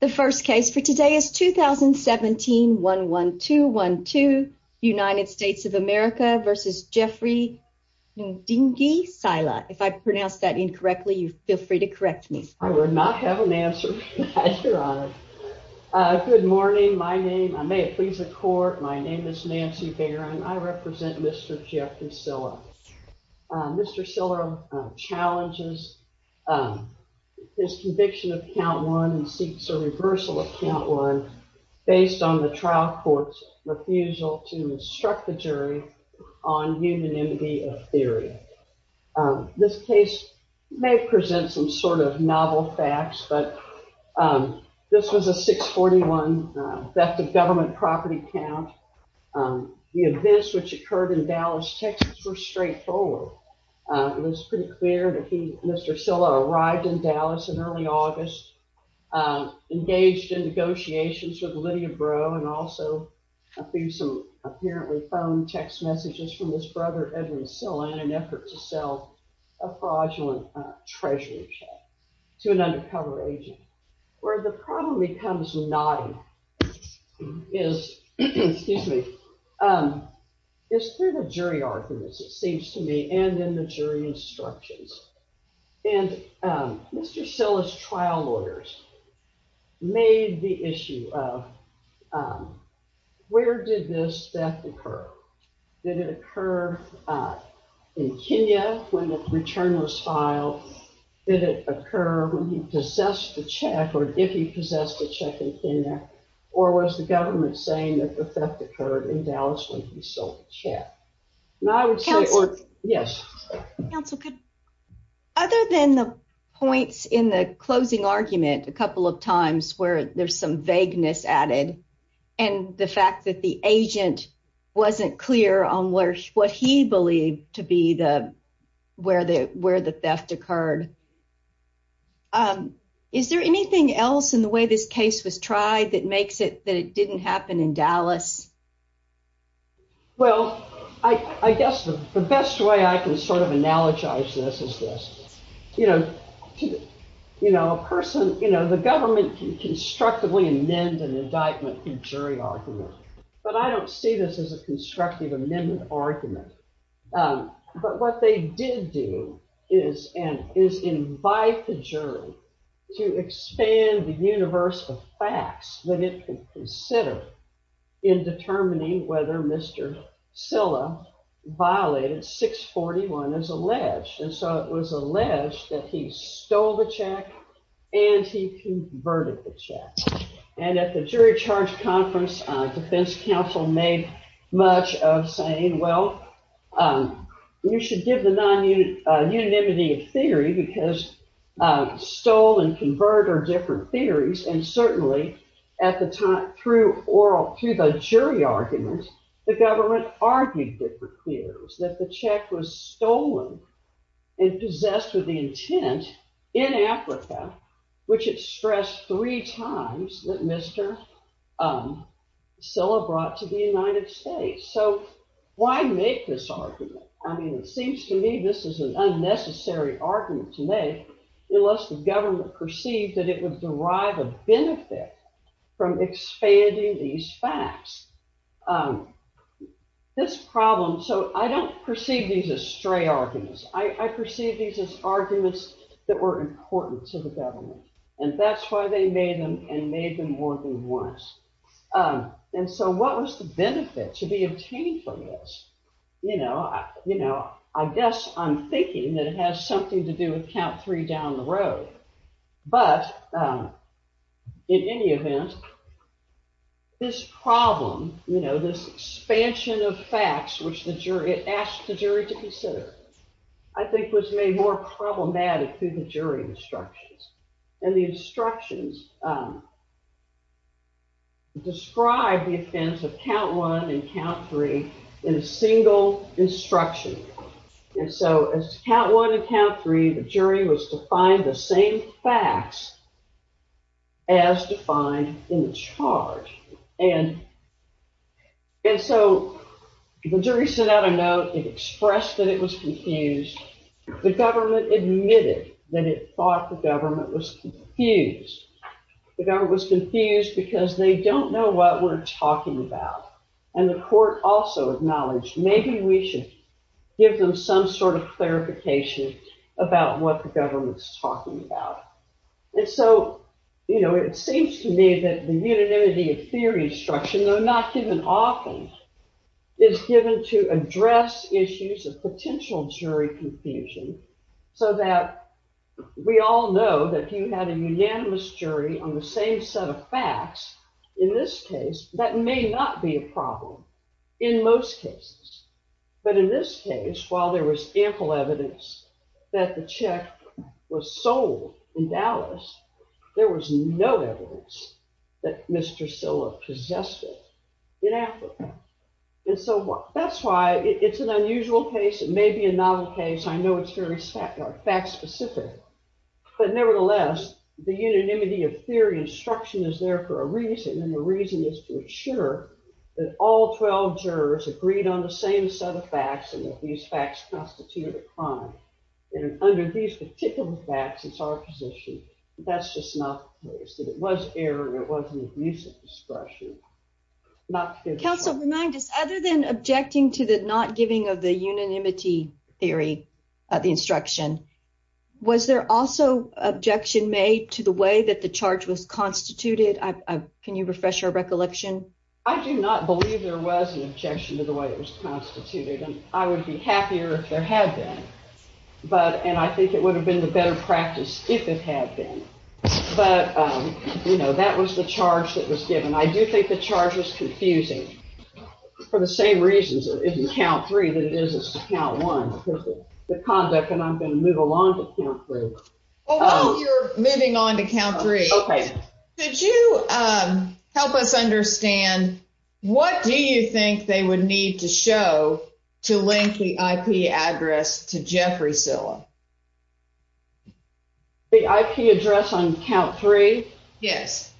The first case for today is 2017-11212 United States of America v. Jeffrey Ndingi Sila. If I pronounced that incorrectly, you feel free to correct me. I will not have an answer for that, your honor. Good morning. My name, I may it please the court, my name is Nancy Barron. I represent Mr. Jeffrey Sila. Mr. Sila challenges his conviction of count one and seeks a reversal of count one based on the trial court's refusal to instruct the jury on unanimity of theory. This case may present some sort of novel facts, but this was a 641 theft of government property count. The events which occurred in Dallas, Texas were straightforward. It was pretty Mr. Sila arrived in Dallas in early August, engaged in negotiations with Lydia Brough and also through some apparently phone text messages from his brother Edwin Sila in an effort to sell a fraudulent treasury check to an undercover agent. Where the problem becomes naughty is through the jury arguments, it seems to me, and in the jury instructions. And Mr. Sila's trial lawyers made the issue of where did this theft occur? Did it occur in Kenya when the return was filed? Did it occur when he possessed the check or if he possessed the check in Kenya or was the government saying that the theft occurred in Dallas when he sold the check? And I would say yes. Other than the points in the closing argument a couple of times where there's some vagueness added and the fact that the agent wasn't clear on what he believed to be where the theft occurred. Is there anything else in the way this case was tried that makes it that it didn't happen in Dallas? Well, I guess the best way I can sort of analogize this is this. You know, a person, you know, the government can constructively amend an indictment through jury argument. But I don't see this as a constructive amendment argument. But what they did do is invite the jury to expand the universe of facts that it can consider in determining whether Mr. Sila violated 641 as alleged. And so it was alleged that he stole the check. And at the jury charge conference, defense counsel made much of saying, well, you should give the unanimity of theory because stole and convert are different theories. And certainly at the time, through the jury argument, the government argued that the check was stolen and possessed with the intent in Africa, which it stressed three times that Mr. Sila brought to the United States. So why make this argument? I mean, it seems to me this is an unnecessary argument to make unless the government perceived that it would derive a I perceive these as arguments that were important to the government. And that's why they made them and made them more than once. And so what was the benefit to be obtained from this? You know, I guess I'm thinking that it has something to do with count three down the road. But in any event, this problem, you know, this expansion of facts, which the jury, to consider, I think was made more problematic through the jury instructions. And the instructions describe the offense of count one and count three in a single instruction. And so as count one and count three, the jury was to find the same facts as defined in the charge. And so the jury sent out a note. It expressed that it was confused. The government admitted that it thought the government was confused. The government was confused because they don't know what we're talking about. And the court also acknowledged, maybe we should give them some sort of clarification about what the government's talking about. And so, you know, it seems to me that the issues of potential jury confusion so that we all know that you had a unanimous jury on the same set of facts, in this case, that may not be a problem in most cases. But in this case, while there was ample evidence that the check was sold in Dallas, there was no evidence that Mr. It's an unusual case. It may be a novel case. I know it's very fact specific, but nevertheless, the unanimity of theory instruction is there for a reason. And the reason is to ensure that all 12 jurors agreed on the same set of facts and that these facts constitute a crime. And under these particular facts, it's our position. That's just not the case. That it was error. It wasn't a decent discussion. Council, remind us other than objecting to the not giving of the unanimity theory of the instruction, was there also objection made to the way that the charge was constituted? Can you refresh our recollection? I do not believe there was an objection to the way it was constituted and I would be happier if there had been. But, you know, that was the charge that was given. I do think the charge was confusing for the same reasons it is in count three than it is in count one. The conduct, and I'm going to move along to count three. While you're moving on to count three, could you help us understand what do you think they would need to show to link the IP address to Jeffrey Zilla? The IP address on count three? Yes.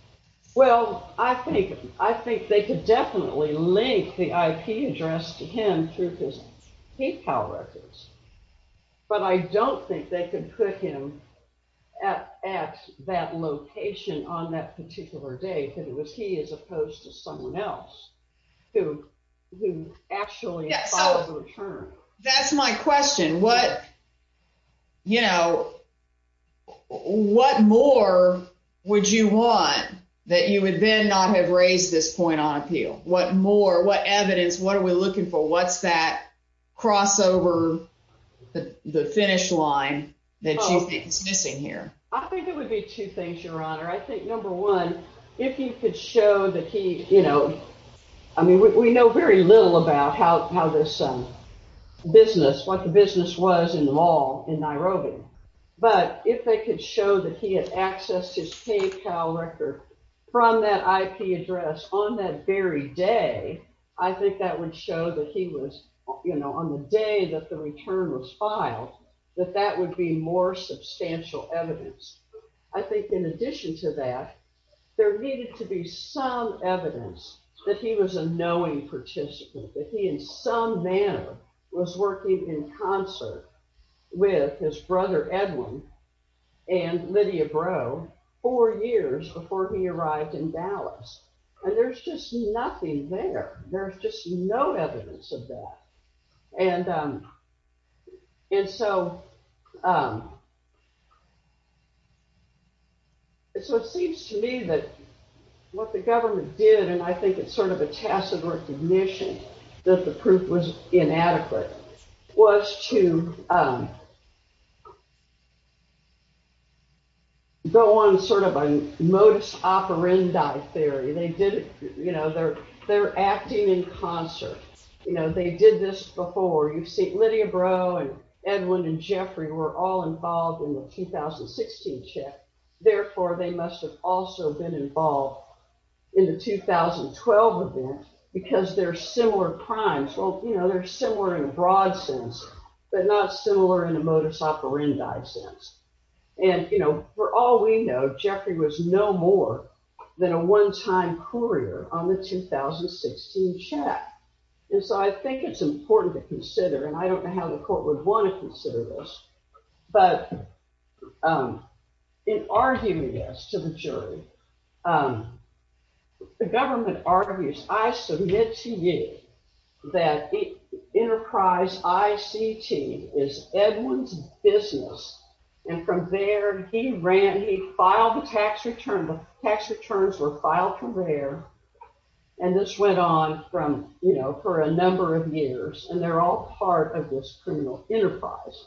Well, I think they could definitely link the IP address to him through his PayPal records. But I don't think they could put him at that location on that particular day because it was he as opposed to someone else who actually filed the return. That's my question. What, you know, what more would you want that you would then not have raised this point on appeal? What more, what evidence, what are we looking for? What's that crossover, the finish line that you think is missing here? I think it would be two things, Your Honor. I think, number one, if you could show that he, you know, I mean, we know very little about how this business, what the business was in the mall in Nairobi, but if they could show that he had accessed his PayPal record from that IP address on that very day, I think that would show that he was, you know, on the day that the return was filed, that that would be more substantial evidence. I think in addition to that, there needed to be some evidence that he was a knowing participant, that he in some manner was working in concert with his brother Edwin and Lydia Brough four years before he arrived in Dallas. And there's just nothing there. There's just no evidence of that. And so it seems to me that what the government did, and I think it's sort of a tacit recognition that the proof was inadequate, was to go on sort of a modus operandi theory. They did, you know, they're acting in concert. You know, they did this before. You see Lydia Brough and Edwin and Jeffrey were all involved in the 2016 check. Therefore, they must have also been involved in the 2012 event because they're similar crimes. Well, you know, they're similar in a broad sense, but not similar in a modus operandi sense. And, you know, for all we know, Jeffrey was no more than a one-time courier on the 2016 check. And so I think it's important to consider, and I don't know how the court would want to consider this, but in arguing this to the jury, the government argues, I submit to you that Enterprise ICT is Edwin's business. And from there, he ran, he filed the tax return. The tax returns were filed from there. And this went on from, you know, for a number of years. And they're all part of this criminal enterprise.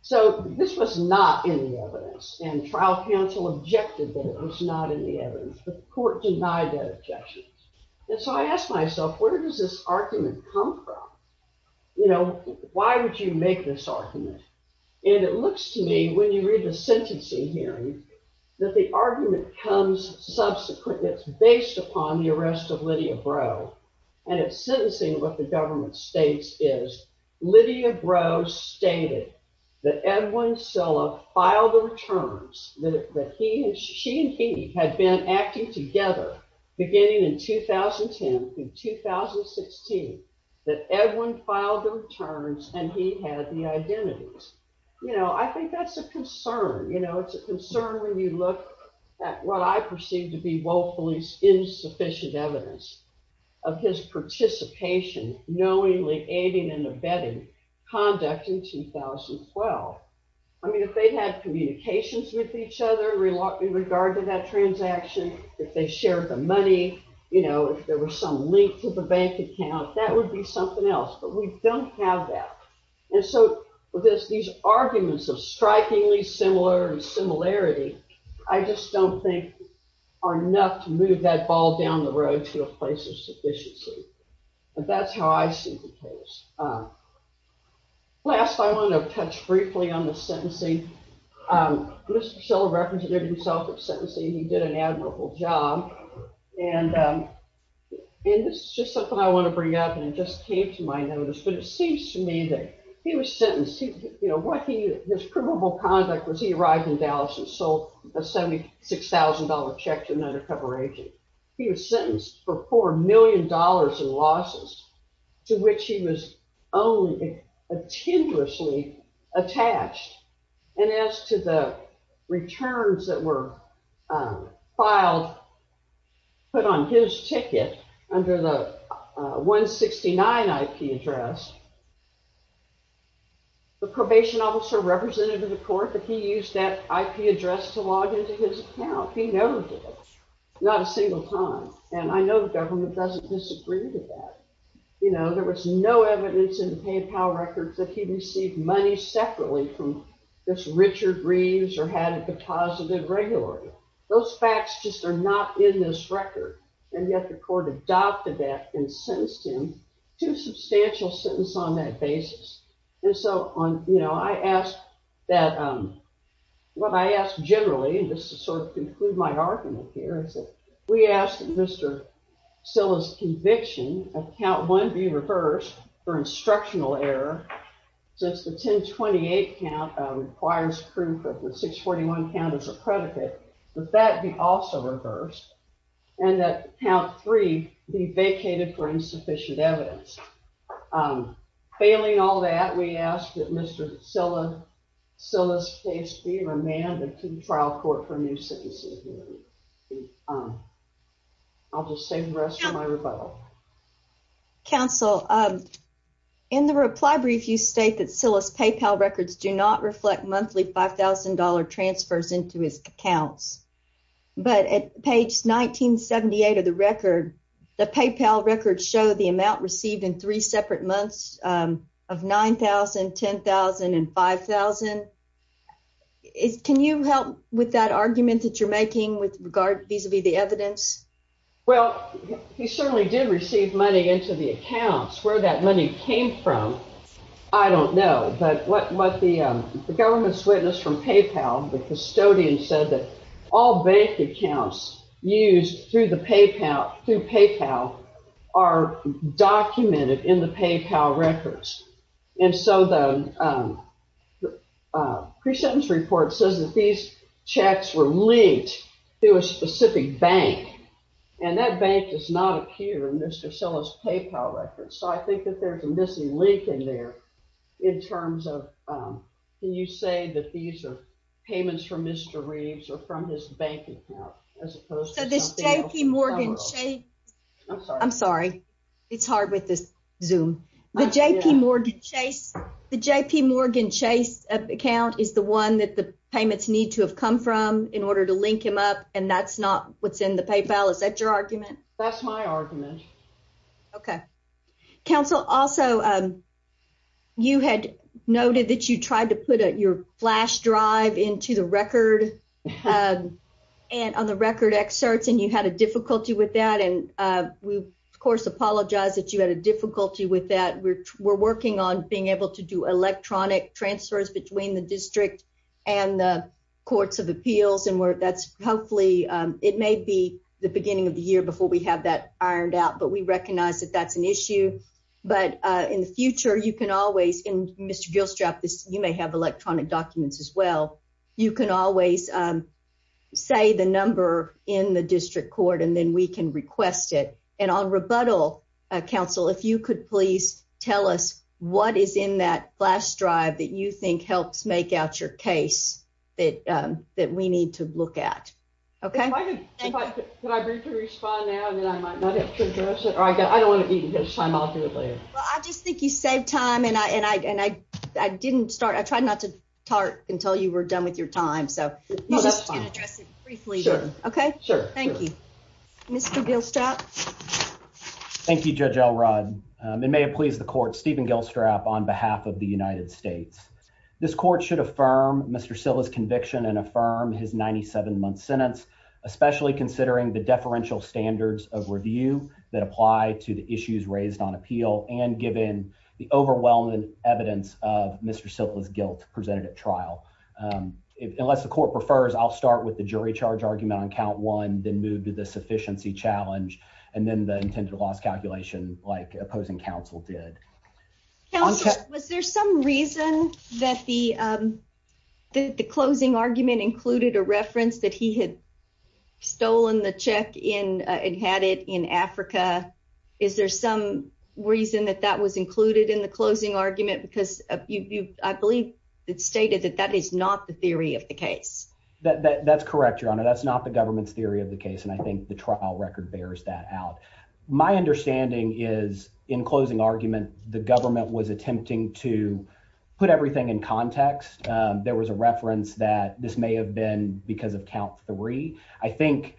So this was not in the evidence. And trial counsel objected that it was not in the evidence. The court denied that objection. And so I asked myself, where does this argument come from? You know, why would you make this argument? And it looks to me, when you read the sentencing hearing, that the argument comes subsequent. It's based upon the arrest of Lydia Brough. And it's sentencing what the government states is, Lydia Brough stated that Edwin Silla filed the returns, that she and he had been acting together beginning in 2010 through 2016, that Edwin filed the returns and he had the identities. You know, I think that's a concern. You know, it's a concern when you look at what I perceive to be woefully insufficient evidence of his participation, knowingly aiding and abetting conduct in 2012. I mean, they've had communications with each other in regard to that transaction. If they shared the money, you know, if there was some link to the bank account, that would be something else. But we don't have that. And so with these arguments of strikingly similar similarity, I just don't think are enough to move that ball down the road to a place of sufficiency. And that's how I see the Mr. Silla represented himself at sentencing. He did an admirable job. And this is just something I want to bring up, and it just came to my notice. But it seems to me that he was sentenced. You know, his criminal conduct was he arrived in Dallas and sold a $76,000 check to an undercover agent. He was sentenced for $4 million in losses, to which he was only a tenuously attached. And as to the returns that were filed, put on his ticket under the 169 IP address, the probation officer represented in the court that he used that IP address to log into his account. He noted it, not a single time. And I know the government doesn't disagree with that. You know, there was no evidence in the PayPal records that he received money separately from this Richard Reeves or had a deposit of regularity. Those facts just are not in this record. And yet the court adopted that and sentenced him to a substantial sentence on that basis. And so on, you know, I ask that, what I ask generally, and just to sort of conclude my rebuttal, that count one be reversed for instructional error, since the 1028 count requires proof that the 641 count is a predicate, that that be also reversed, and that count three be vacated for insufficient evidence. Failing all that, we ask that Mr. Silla's case be remanded to trial court for new sentences. I'll just say the rest of my rebuttal. Counsel, in the reply brief, you state that Silla's PayPal records do not reflect monthly $5,000 transfers into his accounts. But at page 1978 of the record, the PayPal records show the amount received in three separate months of $9,000, $10,000, and $5,000. Can you help with that argument that you're making with regard vis-a-vis the evidence? Well, he certainly did receive money into the accounts. Where that money came from, I don't know. But what the government's witness from PayPal, the custodian, said that all bank accounts used through PayPal are documented in the PayPal records. And so the pre-sentence report says that these checks were linked to a specific bank. And that bank does not appear in Mr. Silla's PayPal records. So I think that there's a missing link in there, in terms of, can you say that these are payments from Mr. Reeves or from his bank account, as opposed to something else? I'm sorry. It's hard with this Zoom. The JPMorgan Chase account is the one that the payments need to have come from, in order to link him up. And that's not what's in the PayPal. Is that your argument? That's my argument. Okay. Counsel, also, you had noted that you tried to put your flash drive into the record, on the record excerpts, and you had a difficulty with that. And we, of course, apologize that you had a difficulty with that. We're working on being able to do electronic transfers between the district and the courts of appeals. And that's, hopefully, it may be the beginning of the year before we have that ironed out. But we recognize that that's an issue. But in the future, you can always, and Mr. Gilstrap, you may have electronic documents as well, you can always say the number in the district court, and then we can request it. And on rebuttal, counsel, if you could please tell us what is in that flash drive that you think helps make out your case that we need to look at. Okay? If I could, could I briefly respond now, and then I might not have to address it? Or I don't want to eat until it's time. I'll do it later. Well, I just think you saved time, and I tried not to talk until you were done with your time. So you can address it briefly. Okay, thank you. Mr. Gilstrap. Thank you, Judge Elrod. It may have pleased the court, Stephen Gilstrap, on behalf of the United States. This court should affirm Mr. Silla's conviction and affirm his 97-month sentence, especially considering the deferential standards of review that apply to the issues raised on appeal, and given the overwhelming evidence of Mr. Silla's guilt presented at trial. Unless the court prefers, I'll start with the jury charge argument on count one, then move to the sufficiency challenge, and then the intended loss calculation like opposing counsel did. Counsel, was there some reason that the closing argument included a reference that he had stolen the check and had it in Africa? Is there some reason that that was included in the closing argument? Because I believe it stated that that is not the theory of the case. That's correct, Your Honor. That's not the government's theory of the case, and I think the trial record bears that out. My understanding is, in closing argument, the government was attempting to put everything in context. There was a reference that this may have been because of count three. I think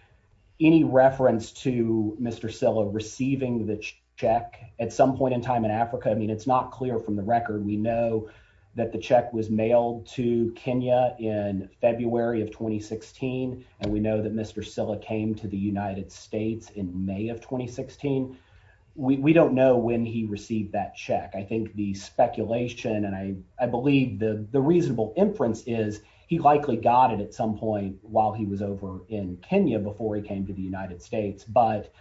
any reference to Mr. Silla receiving the check at some point in time in Africa, I mean, it's not clear from the record. We know that the check was mailed to Kenya in February of 2016, and we know that Mr. Silla came to the United States in May of 2016. We don't know when he received that check. I think the speculation, and I believe the was over in Kenya before he came to the United States, but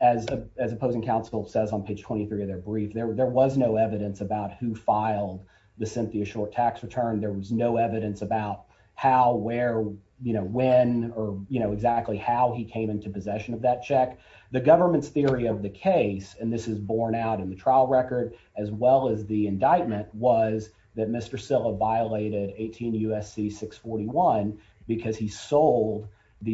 as opposing counsel says on page 23 of their brief, there was no evidence about who filed the Cynthia Short tax return. There was no evidence about how, where, when, or exactly how he came into possession of that check. The government's theory of the case, and this is borne out in the trial record as well as the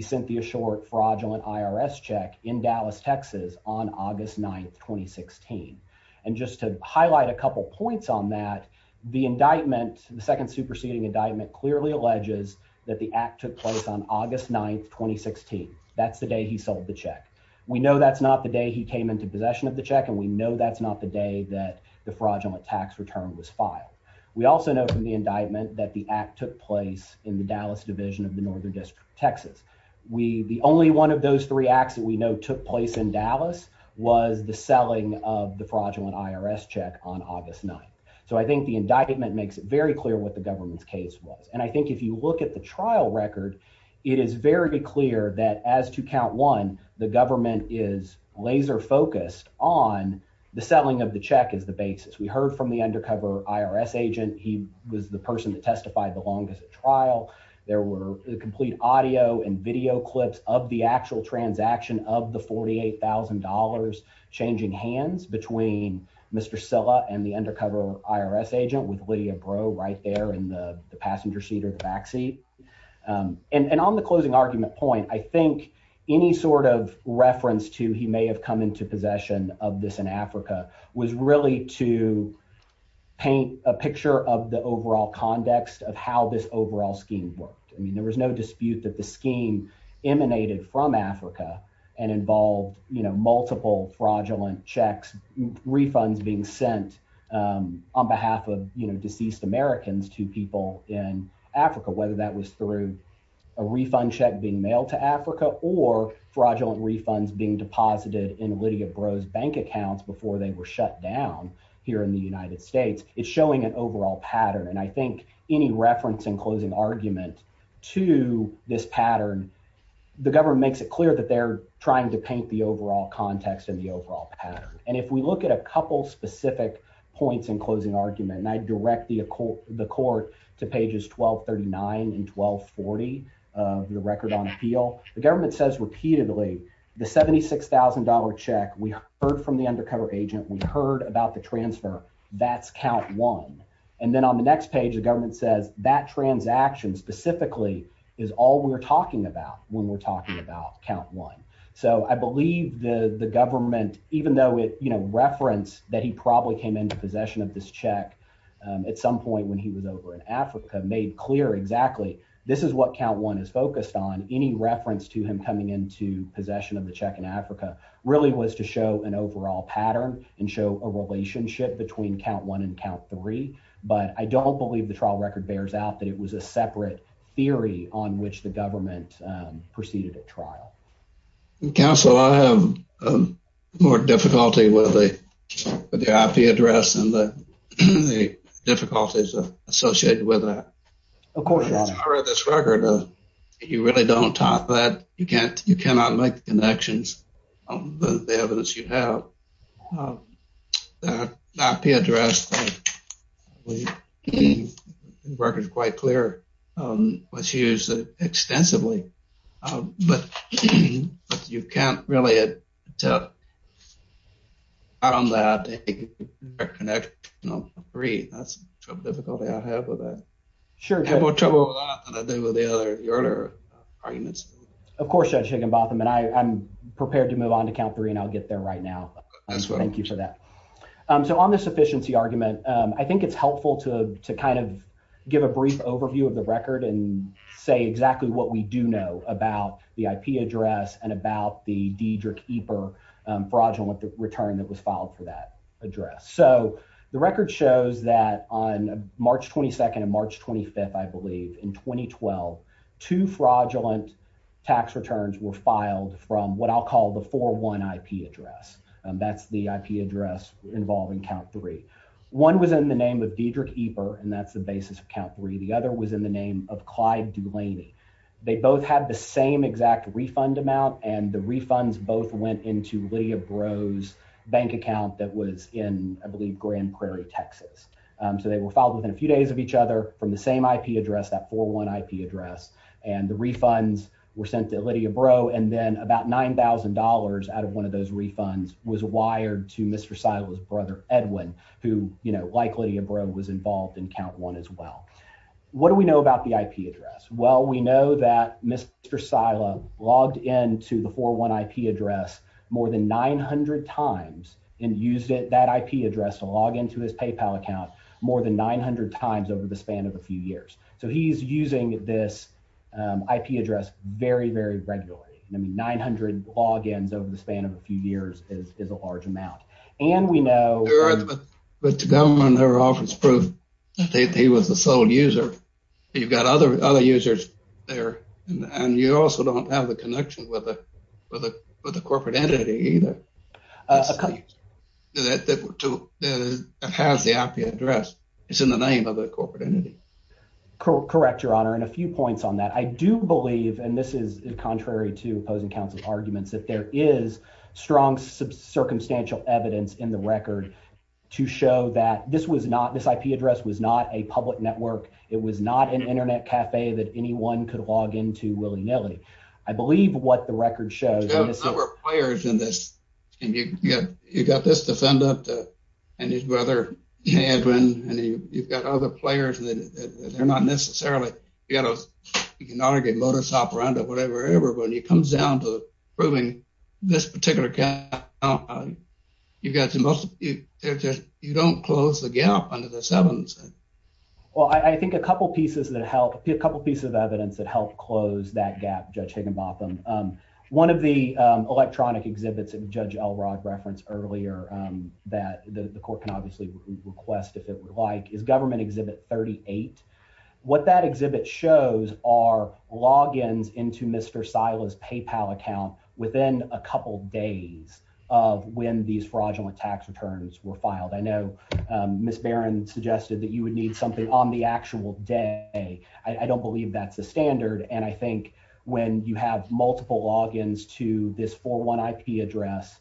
Cynthia Short fraudulent IRS check in Dallas, Texas on August 9th, 2016. And just to highlight a couple points on that, the indictment, the second superseding indictment clearly alleges that the act took place on August 9th, 2016. That's the day he sold the check. We know that's not the day he came into possession of the check, and we know that's not the day that the fraudulent tax return was filed. We also know from the indictment that the act took place in the Dallas division of the Northern District of Texas. We, the only one of those three acts that we know took place in Dallas was the selling of the fraudulent IRS check on August 9th. So I think the indictment makes it very clear what the government's case was. And I think if you look at the trial record, it is very clear that as to count one, the government is laser focused on the selling of the check as the basis. We heard from the undercover IRS agent. He was the person that testified the trial. There were complete audio and video clips of the actual transaction of the $48,000 changing hands between Mr. Silla and the undercover IRS agent with Lydia bro right there in the passenger seat or the backseat. Um, and, and on the closing argument point, I think any sort of reference to, he may have come into possession of this in Africa was really to paint a picture of the overall context of how this overall scheme worked. I mean, there was no dispute that the scheme emanated from Africa and involved, you know, multiple fraudulent checks, refunds being sent, um, on behalf of, you know, deceased Americans to people in Africa, whether that was through a refund check being mailed to Africa or fraudulent refunds being It's showing an overall pattern. And I think any reference in closing argument to this pattern, the government makes it clear that they're trying to paint the overall context and the overall pattern. And if we look at a couple specific points in closing argument, and I direct the, the court to pages 1239 and 1240 of the record on appeal, the government says repeatedly the $76,000 check. We heard from the undercover agent. We heard about the transfer that's count one. And then on the next page, the government says that transaction specifically is all we're talking about when we're talking about count one. So I believe the, the government, even though it, you know, reference that he probably came into possession of this check, um, at some point when he was over in Africa made clear, exactly. This is what count one is focused on any reference to him coming into possession of the check in Africa really was to show an overall pattern and show a relationship between count one and count three. But I don't believe the trial record bears out that it was a separate theory on which the government, um, proceeded at trial. Counsel, I have, um, more difficulty with the, with the IP address and the difficulties associated with that. Of course, that's part of this record. Uh, you really don't talk that you can't, you cannot make connections on the evidence you have, um, that IP address, um, records quite clear, um, was used extensively. Um, but you can't really tell on that connect, you know, three, that's a difficulty I have with that. Sure. I have more trouble with that than I did with the other earlier arguments. Of course, Judge Higginbotham and I, I'm prepared to move on to count three and I'll get there right now. Thank you for that. Um, so on the sufficiency argument, um, I think it's helpful to, to kind of give a brief overview of the record and say exactly what we do know about the IP address and about the Diedrich EPR fraudulent return that was filed for that address. So the record shows that on March 22nd and March 25th, I believe in 2012, two fraudulent tax returns were filed from what I'll call the four one IP address. Um, that's the IP address involving count three. One was in the name of Diedrich EPR and that's the basis of count three. The other was in the name of Clyde Dulaney. They both had the same exact refund amount and the refunds both went into Lydia Brough's bank account that was in, I believe Grand Prairie, Texas. Um, so they were filed within a few days of each other from the same IP address, that four one IP address. And the refunds were sent to Lydia Brough. And then about $9,000 out of one of those refunds was wired to Mr. Seidel's brother, Edwin, who, you know, like Lydia Brough was involved in count one as well. What do we know about the IP address? Well, we know that Mr. Seidel logged into the four one IP address more than 900 times and used it, that IP address to log into his PayPal account more than 900 times over the span of a few years. So he's using this, um, IP address very, very regularly. I mean, 900 logins over the span of a few years is a large amount. And we know- He was the sole user. You've got other, other users there and you also don't have the connection with a, with a, with a corporate entity either that has the IP address. It's in the name of the corporate entity. Correct, your honor. And a few points on that. I do believe, and this is contrary to opposing counsel's arguments, that there is strong circumstantial evidence in the IP address was not a public network. It was not an internet cafe that anyone could log into willy-nilly. I believe what the record shows- You have a number of players in this, and you've got, you've got this defendant and his brother, Edwin, and you've got other players that they're not necessarily, you know, you can argue modus operandi or whatever, but when it comes down to this particular account, you've got the most, you don't close the gap under this evidence. Well, I think a couple pieces that help, a couple pieces of evidence that helped close that gap, Judge Higginbotham. One of the electronic exhibits that Judge Elrod referenced earlier that the court can obviously request if it would like is government exhibit 38. What that exhibit shows are logins into Mr. Sila's PayPal account within a couple days of when these fraudulent tax returns were filed. I know Ms. Barron suggested that you would need something on the actual day. I don't believe that's the standard, and I think when you have multiple logins to this 401 IP address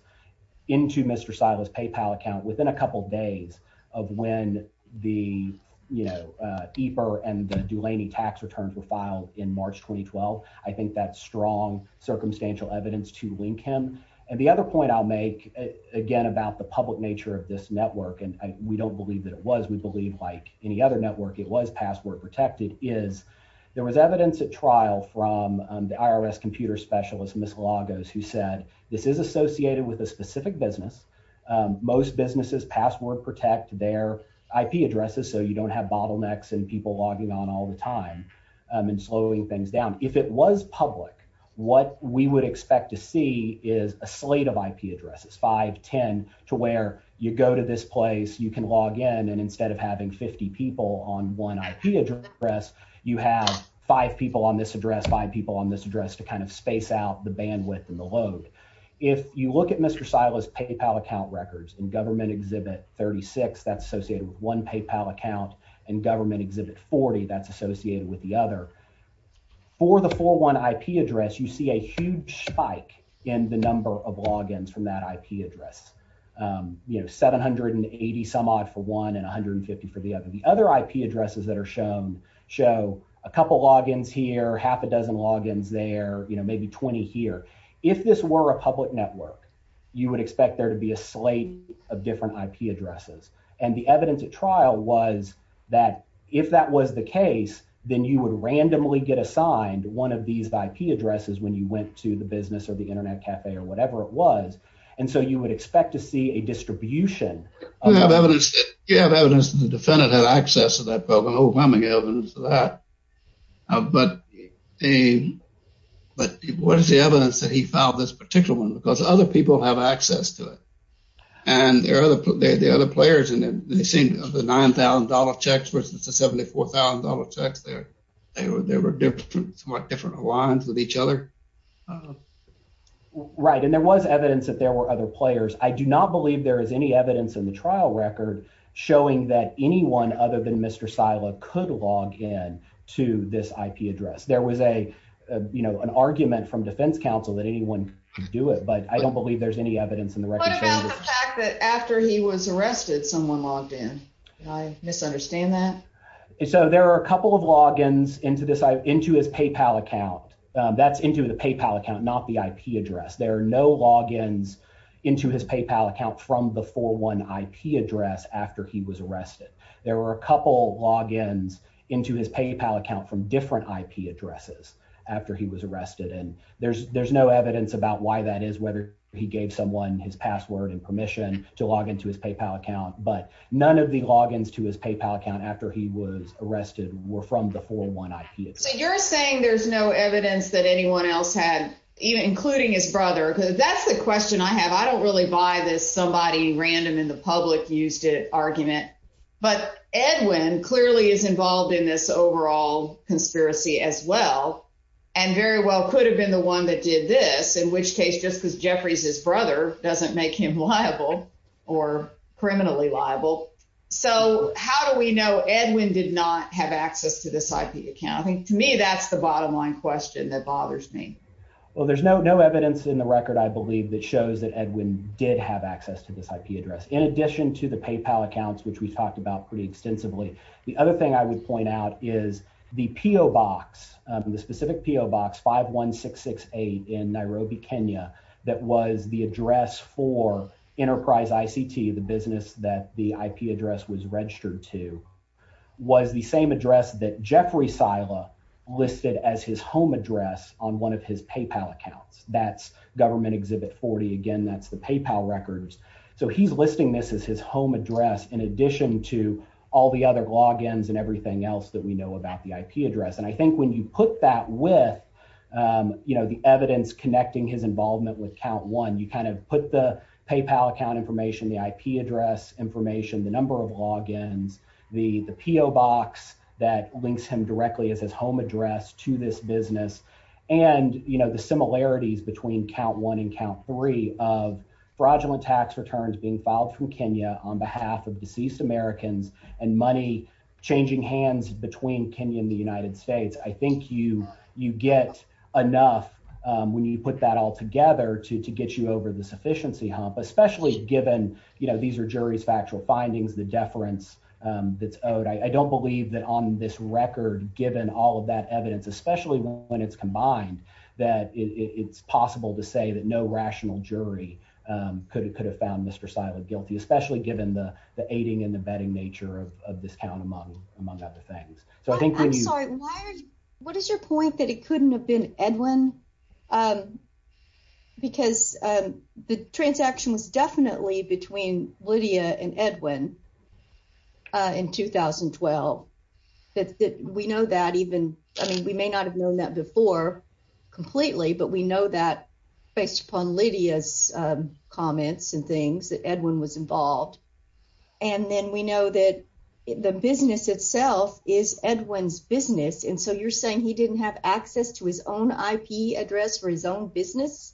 into Mr. Sila's PayPal account within a couple days of when the, you know, EPR and the tax returns were filed in March, 2012, I think that's strong circumstantial evidence to link him. And the other point I'll make, again, about the public nature of this network, and we don't believe that it was, we believe like any other network it was password protected, is there was evidence at trial from the IRS computer specialist, Ms. Lagos, who said this is associated with a specific business. Most businesses password protect their IP addresses, so you don't have bottlenecks and people logging on all the time and slowing things down. If it was public, what we would expect to see is a slate of IP addresses, 5, 10, to where you go to this place, you can log in, and instead of having 50 people on one IP address, you have five people on this address, five people on this address to kind of space out the bandwidth and the load. If you look at Mr. Sila's PayPal account records and government exhibit 36, that's associated with one PayPal account, and government exhibit 40, that's associated with the other. For the 401 IP address, you see a huge spike in the number of logins from that IP address, you know, 780 some odd for one and 150 for the other. The other IP addresses that are shown show a couple logins here, half a dozen logins there, you know, maybe 20 here. If this were a different IP addresses, and the evidence at trial was that if that was the case, then you would randomly get assigned one of these IP addresses when you went to the business or the internet cafe or whatever it was, and so you would expect to see a distribution. We have evidence that the defendant had access to that program, overwhelming evidence of that, but what is the evidence that he and the other players, and they seem to have the $9,000 checks versus the $74,000 checks there, they were different, somewhat different lines with each other. Right, and there was evidence that there were other players. I do not believe there is any evidence in the trial record showing that anyone other than Mr. Sila could log in to this IP address. There was a, you know, an argument from defense counsel that anyone could do it, but I After he was arrested, someone logged in. I misunderstand that. So, there are a couple of logins into this, into his PayPal account. That's into the PayPal account, not the IP address. There are no logins into his PayPal account from the 4-1 IP address after he was arrested. There were a couple logins into his PayPal account from different IP addresses after he was arrested, and there's no evidence about why that is, whether he gave someone his permission to log into his PayPal account, but none of the logins to his PayPal account after he was arrested were from the 4-1 IP address. So, you're saying there's no evidence that anyone else had, including his brother, because that's the question I have. I don't really buy this somebody random in the public used it argument, but Edwin clearly is involved in this overall conspiracy as well, and very well could have been the one that did this, in which case, just because Jeffrey's his brother doesn't make him liable or criminally liable. So, how do we know Edwin did not have access to this IP account? I think, to me, that's the bottom line question that bothers me. Well, there's no evidence in the record, I believe, that shows that Edwin did have access to this IP address, in addition to the PayPal accounts, which we talked about pretty extensively. The other thing I would point out is the PO box, the specific PO box 51668 in Nairobi, Kenya, that was the address for Enterprise ICT, the business that the IP address was registered to, was the same address that Jeffrey Sila listed as his home address on one of his PayPal accounts. That's Government Exhibit 40. Again, that's the PayPal records. So, he's listing this as his home address, in addition to all the other logins and everything else that we put that with, you know, the evidence connecting his involvement with Count One. You kind of put the PayPal account information, the IP address information, the number of logins, the PO box that links him directly as his home address to this business, and, you know, the similarities between Count One and Count Three of fraudulent tax returns being filed from Kenya on behalf of you get enough when you put that all together to get you over the sufficiency hump, especially given, you know, these are jury's factual findings, the deference that's owed. I don't believe that on this record, given all of that evidence, especially when it's combined, that it's possible to say that no rational jury could have found Mr. Sila guilty, especially given the aiding and the aiding and the abetting of Mr. Sila. So, what is your point that it couldn't have been Edwin? Because the transaction was definitely between Lydia and Edwin in 2012. That we know that even, I mean, we may not have known that before completely, but we know that based upon Lydia's comments and things that Edwin was involved. And then we know that the business itself is Edwin's business. And so you're saying he didn't have access to his own IP address for his own business?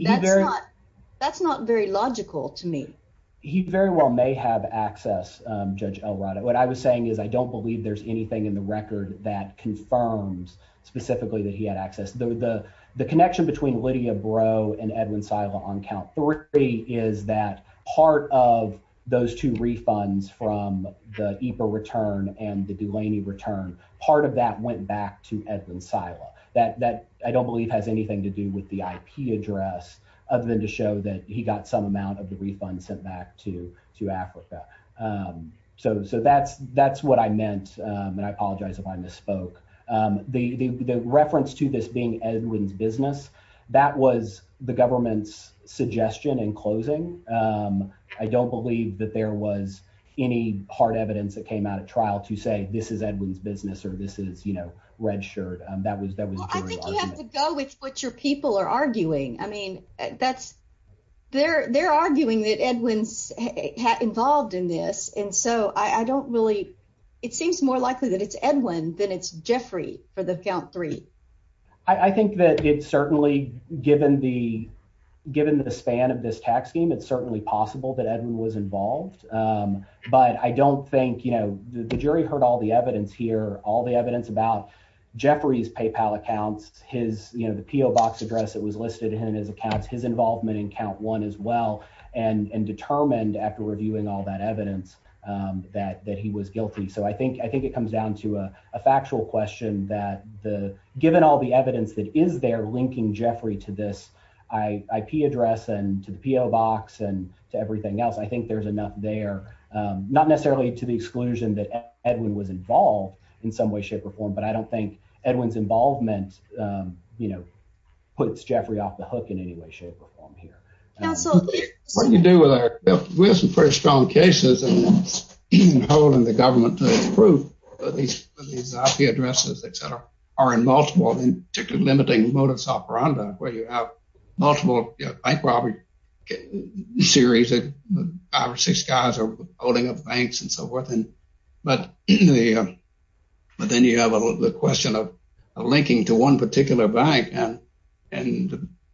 That's not very logical to me. He very well may have access, Judge Elroda. What I was saying is I don't believe there's anything in the record that confirms specifically that he had access. The connection between Lydia Breaux and Edwin Sila on Count Three is that part of those two refunds from the IPA return and the Dulaney return, part of that went back to Edwin Sila. That I don't believe has anything to do with the IP address other than to show that he got some amount of the refund sent back to Africa. So that's what I meant, and I apologize if I misspoke. The reference to this being Edwin's business, that was the government's suggestion in closing. I don't believe that there was any hard evidence that came out at trial to say this is Edwin's business or this is, you know, red shirt. I think you have to go with what your people are arguing. I mean, they're arguing that Edwin's involved in this, and so I don't really, it seems more likely that it's Edwin than it's Jeffrey for the Count Three. I think that it's certainly, given the span of this tax scheme, it's certainly possible that Edwin was involved, but I don't think, you know, the jury heard all the evidence here, all the evidence about Jeffrey's PayPal accounts, his, you know, the PO Box address that was listed in his accounts, his involvement in Count One as well, and determined after reviewing all that evidence that he was guilty. So I think it comes down to a factual question that given all the evidence that is there linking Jeffrey to this IP address and to the PO Box and to everything else, I think there's enough there, not necessarily to the exclusion that Edwin was involved in some way, shape, or form, but I don't think Edwin's involvement, you know, puts Jeffrey off the hook in any way, shape, or form here. Now, so what do you do with our, we have some pretty strong cases and holding the government to its proof that these IP addresses, et cetera, are in multiple, in particular, limiting modus operandi, where you have multiple, you know, bank robbery series, five or six guys are holding up banks and so forth, but then you have the question of linking to one particular bank and,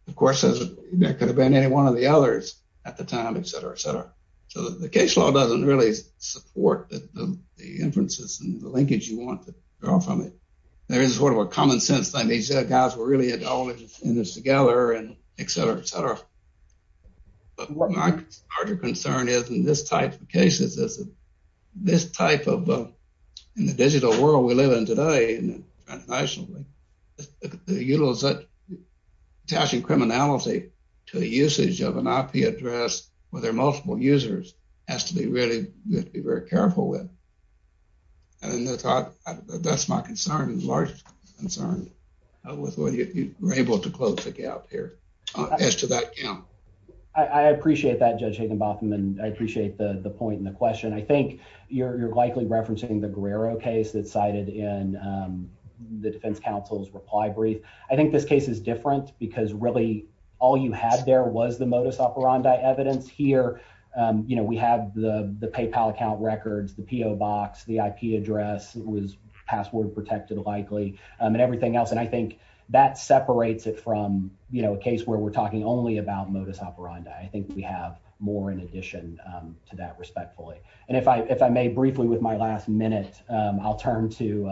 of course, there could have been any one of the others at the time, et cetera, et cetera. So the case law doesn't really support the inferences and the linkage you want to draw from it. There is sort of a common sense thing, these guys were really all in this together and et cetera, et cetera. But what my larger concern is in this type of cases is this type of, in the digital world we to usage of an IP address where there are multiple users has to be really, you have to be very careful with. And that's my concern, the largest concern with whether you're able to close the gap here as to that count. I appreciate that, Judge Higginbotham, and I appreciate the point and the question. I think you're likely referencing the Guerrero case that's cited in the defense counsel's reply brief. I think this case is different because really all you had there was the modus operandi evidence. Here we have the PayPal account records, the PO box, the IP address was password protected likely and everything else. And I think that separates it from a case where we're talking only about modus operandi. I think we have more in addition to that respectfully. And if I may briefly with my last minute, I'll turn to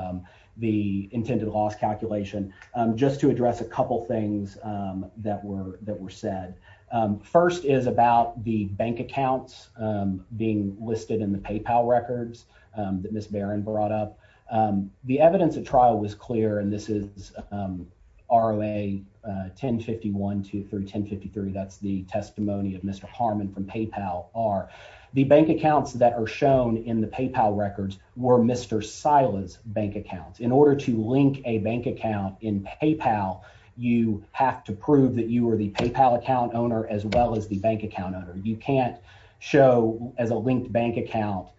the intended loss calculation just to address a couple things that were said. First is about the bank accounts being listed in the PayPal records that Ms. Barron brought up. The evidence at trial was clear, and this is ROA 1051-1053, that's the testimony of Mr. Harmon from PayPal. The bank accounts that are shown in the PayPal records were Mr. Sila's bank accounts. In order to link a bank account in PayPal, you have to prove that you were the PayPal account owner as well as the bank account owner. You can't show as a linked bank account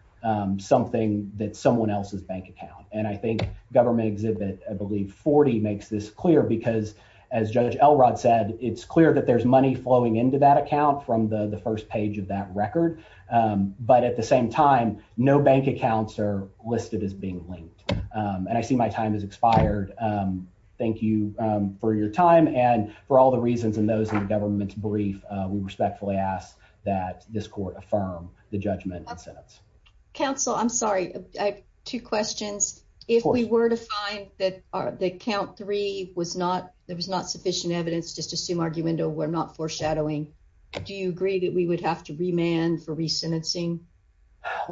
something that's someone else's bank account. And I think government exhibit, I believe 40 makes this clear because as Judge Elrod said, it's clear that there's money flowing into that account from the first page of that record. But at the same time, no bank accounts are listed as being linked. And I see my time has expired. Thank you for your time and for all the reasons in those in the government's brief, we respectfully ask that this court affirm the judgment and sentence. Counsel, I'm sorry, I have two questions. If we were to find that count three, there was not sufficient evidence, just assume arguendo were not sentencing.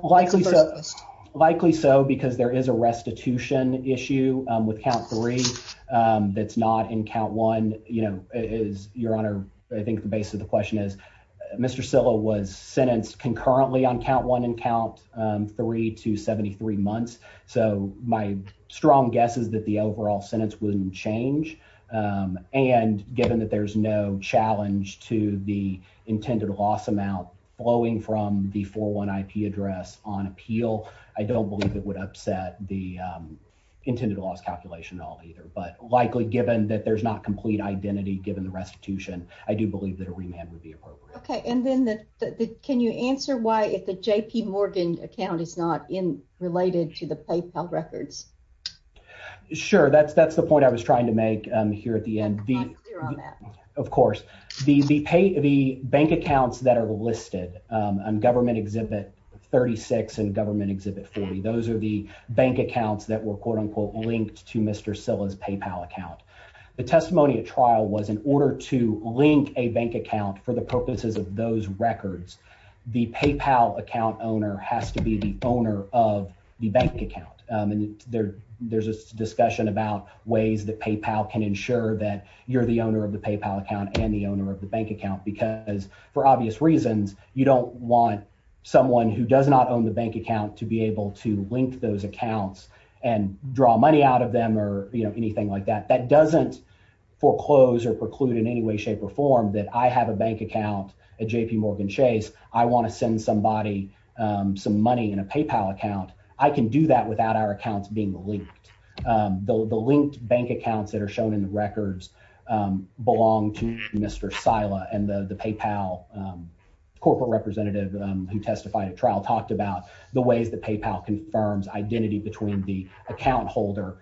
Likely so, likely so, because there is a restitution issue with count three. That's not in count one, you know, is your honor. I think the base of the question is Mr. Silla was sentenced concurrently on count one and count three to 73 months. So my strong guess is that the overall sentence wouldn't change. And given that there's no challenge to the intended loss amount blowing from the 401 IP address on appeal, I don't believe it would upset the intended loss calculation at all either. But likely given that there's not complete identity given the restitution, I do believe that a remand would be appropriate. Okay. And then can you answer why if the JP Morgan account is not in related to the PayPal records? Sure. That's the point I was trying to make here at the end. Of course, the bank accounts that are listed on government exhibit 36 and government exhibit 40, those are the bank accounts that were quote unquote linked to Mr. Silla's PayPal account. The testimony at trial was in order to link a bank account for the purposes of those records, the PayPal account owner has to be the owner of the bank account. And there's a discussion about ways that PayPal can ensure that you're the owner of the PayPal account and the owner of the bank account, because for obvious reasons, you don't want someone who does not own the bank account to be able to link those accounts and draw money out of them or anything like that. That doesn't foreclose or preclude in any way, shape or form that I have a bank account at JP Morgan Chase. I want to send somebody some money in a PayPal account. I can do that without our accounts being linked. The linked bank accounts that are shown in the records belong to Mr. Silla and the PayPal corporate representative who testified at trial talked about the ways that PayPal confirms identity between the account holder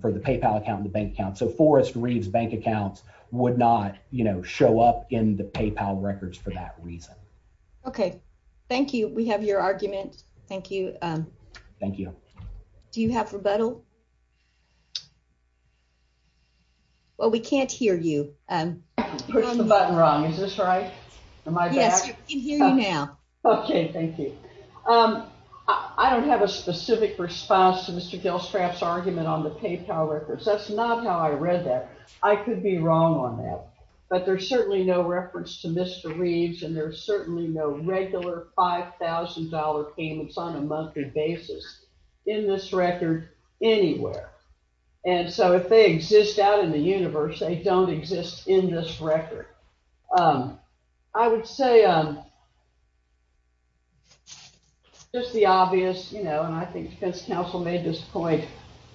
for the PayPal account and the bank account. So Forrest Reeves bank accounts would not show up in the PayPal records for that reason. Okay. Thank you. We have your button. Well, we can't hear you. Push the button wrong. Is this right? Yes, we can hear you now. Okay. Thank you. I don't have a specific response to Mr. Gilstrap's argument on the PayPal records. That's not how I read that. I could be wrong on that. But there's certainly no reference to Mr. Reeves. And there's certainly no regular $5,000 payments on a monthly basis in this record. Anywhere. And so if they exist out in the universe, they don't exist in this record. I would say just the obvious, you know, and I think defense counsel made this point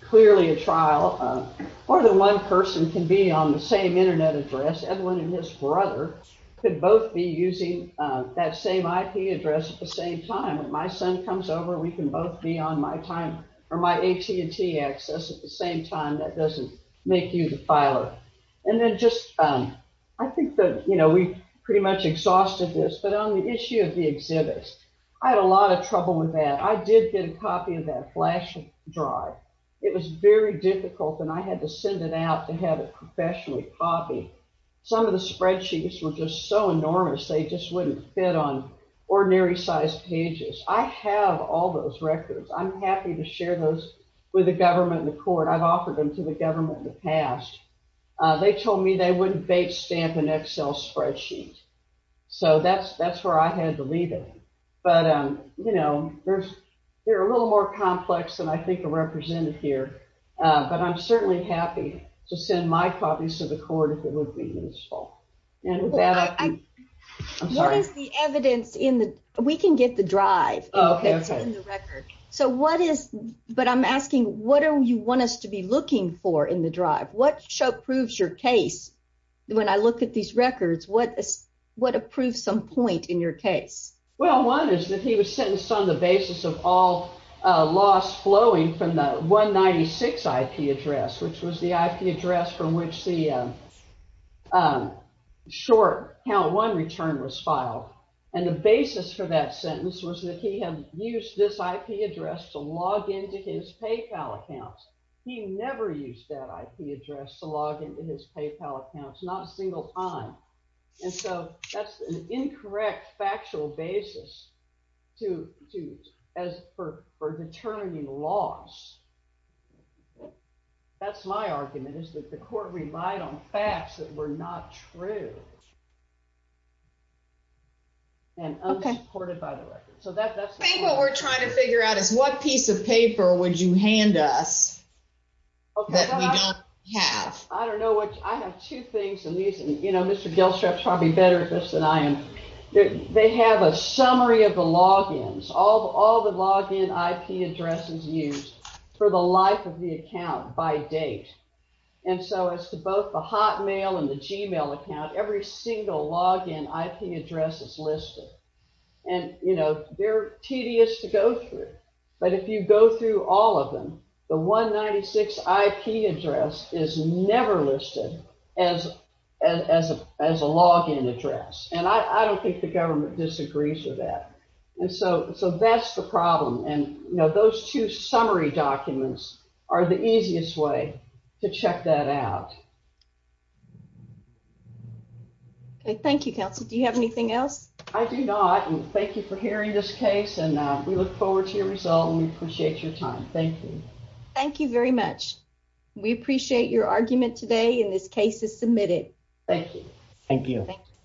clearly a trial. More than one person can be on the same internet address. Everyone and his brother could both be using that same IP address at the same time. If my son comes over, we can both be on my time access at the same time. That doesn't make you the filer. And then just I think that, you know, we pretty much exhausted this. But on the issue of the exhibits, I had a lot of trouble with that. I did get a copy of that flash drive. It was very difficult and I had to send it out to have it professionally copied. Some of the spreadsheets were just so enormous, they just wouldn't fit on I've offered them to the government in the past. They told me they wouldn't bait stamp an Excel spreadsheet. So that's where I had to leave it. But, you know, they're a little more complex than I think are represented here. But I'm certainly happy to send my copies to the court if it would be useful. What is the evidence in the, we can get the drive that's in the record. So what is, but I'm asking, what do you want us to be looking for in the drive? What show proves your case? When I look at these records, what, what approved some point in your case? Well, one is that he was sentenced on the basis of all loss flowing from the 196 IP address, which was the IP address from which the short count one return was filed. And the basis for that sentence was that he had used this IP address to log into his PayPal accounts. He never used that IP address to log into his PayPal accounts, not a single time. And so that's an incorrect factual basis to, to, as for, for determining loss. That's my argument is that the court relied on facts that were not true. And unsupported by the record. So that's what we're trying to figure out is what piece of paper would you hand us that we don't have? I don't know what, I have two things. And these, you know, Mr. Gilstrap's probably better at this than I am. They have a summary of the logins, all, all the login IP addresses used for the life of the account by date. And so as to both the hot account, every single login IP address is listed. And, you know, they're tedious to go through. But if you go through all of them, the 196 IP address is never listed as, as, as a login address. And I don't think the government disagrees with that. And so, so that's the problem. And, you know, those two summary documents are the easiest way to check that out. Okay. Thank you, counsel. Do you have anything else? I do not. And thank you for hearing this case and we look forward to your result and we appreciate your time. Thank you. Thank you very much. We appreciate your argument today and this case is submitted. Thank you. Thank you.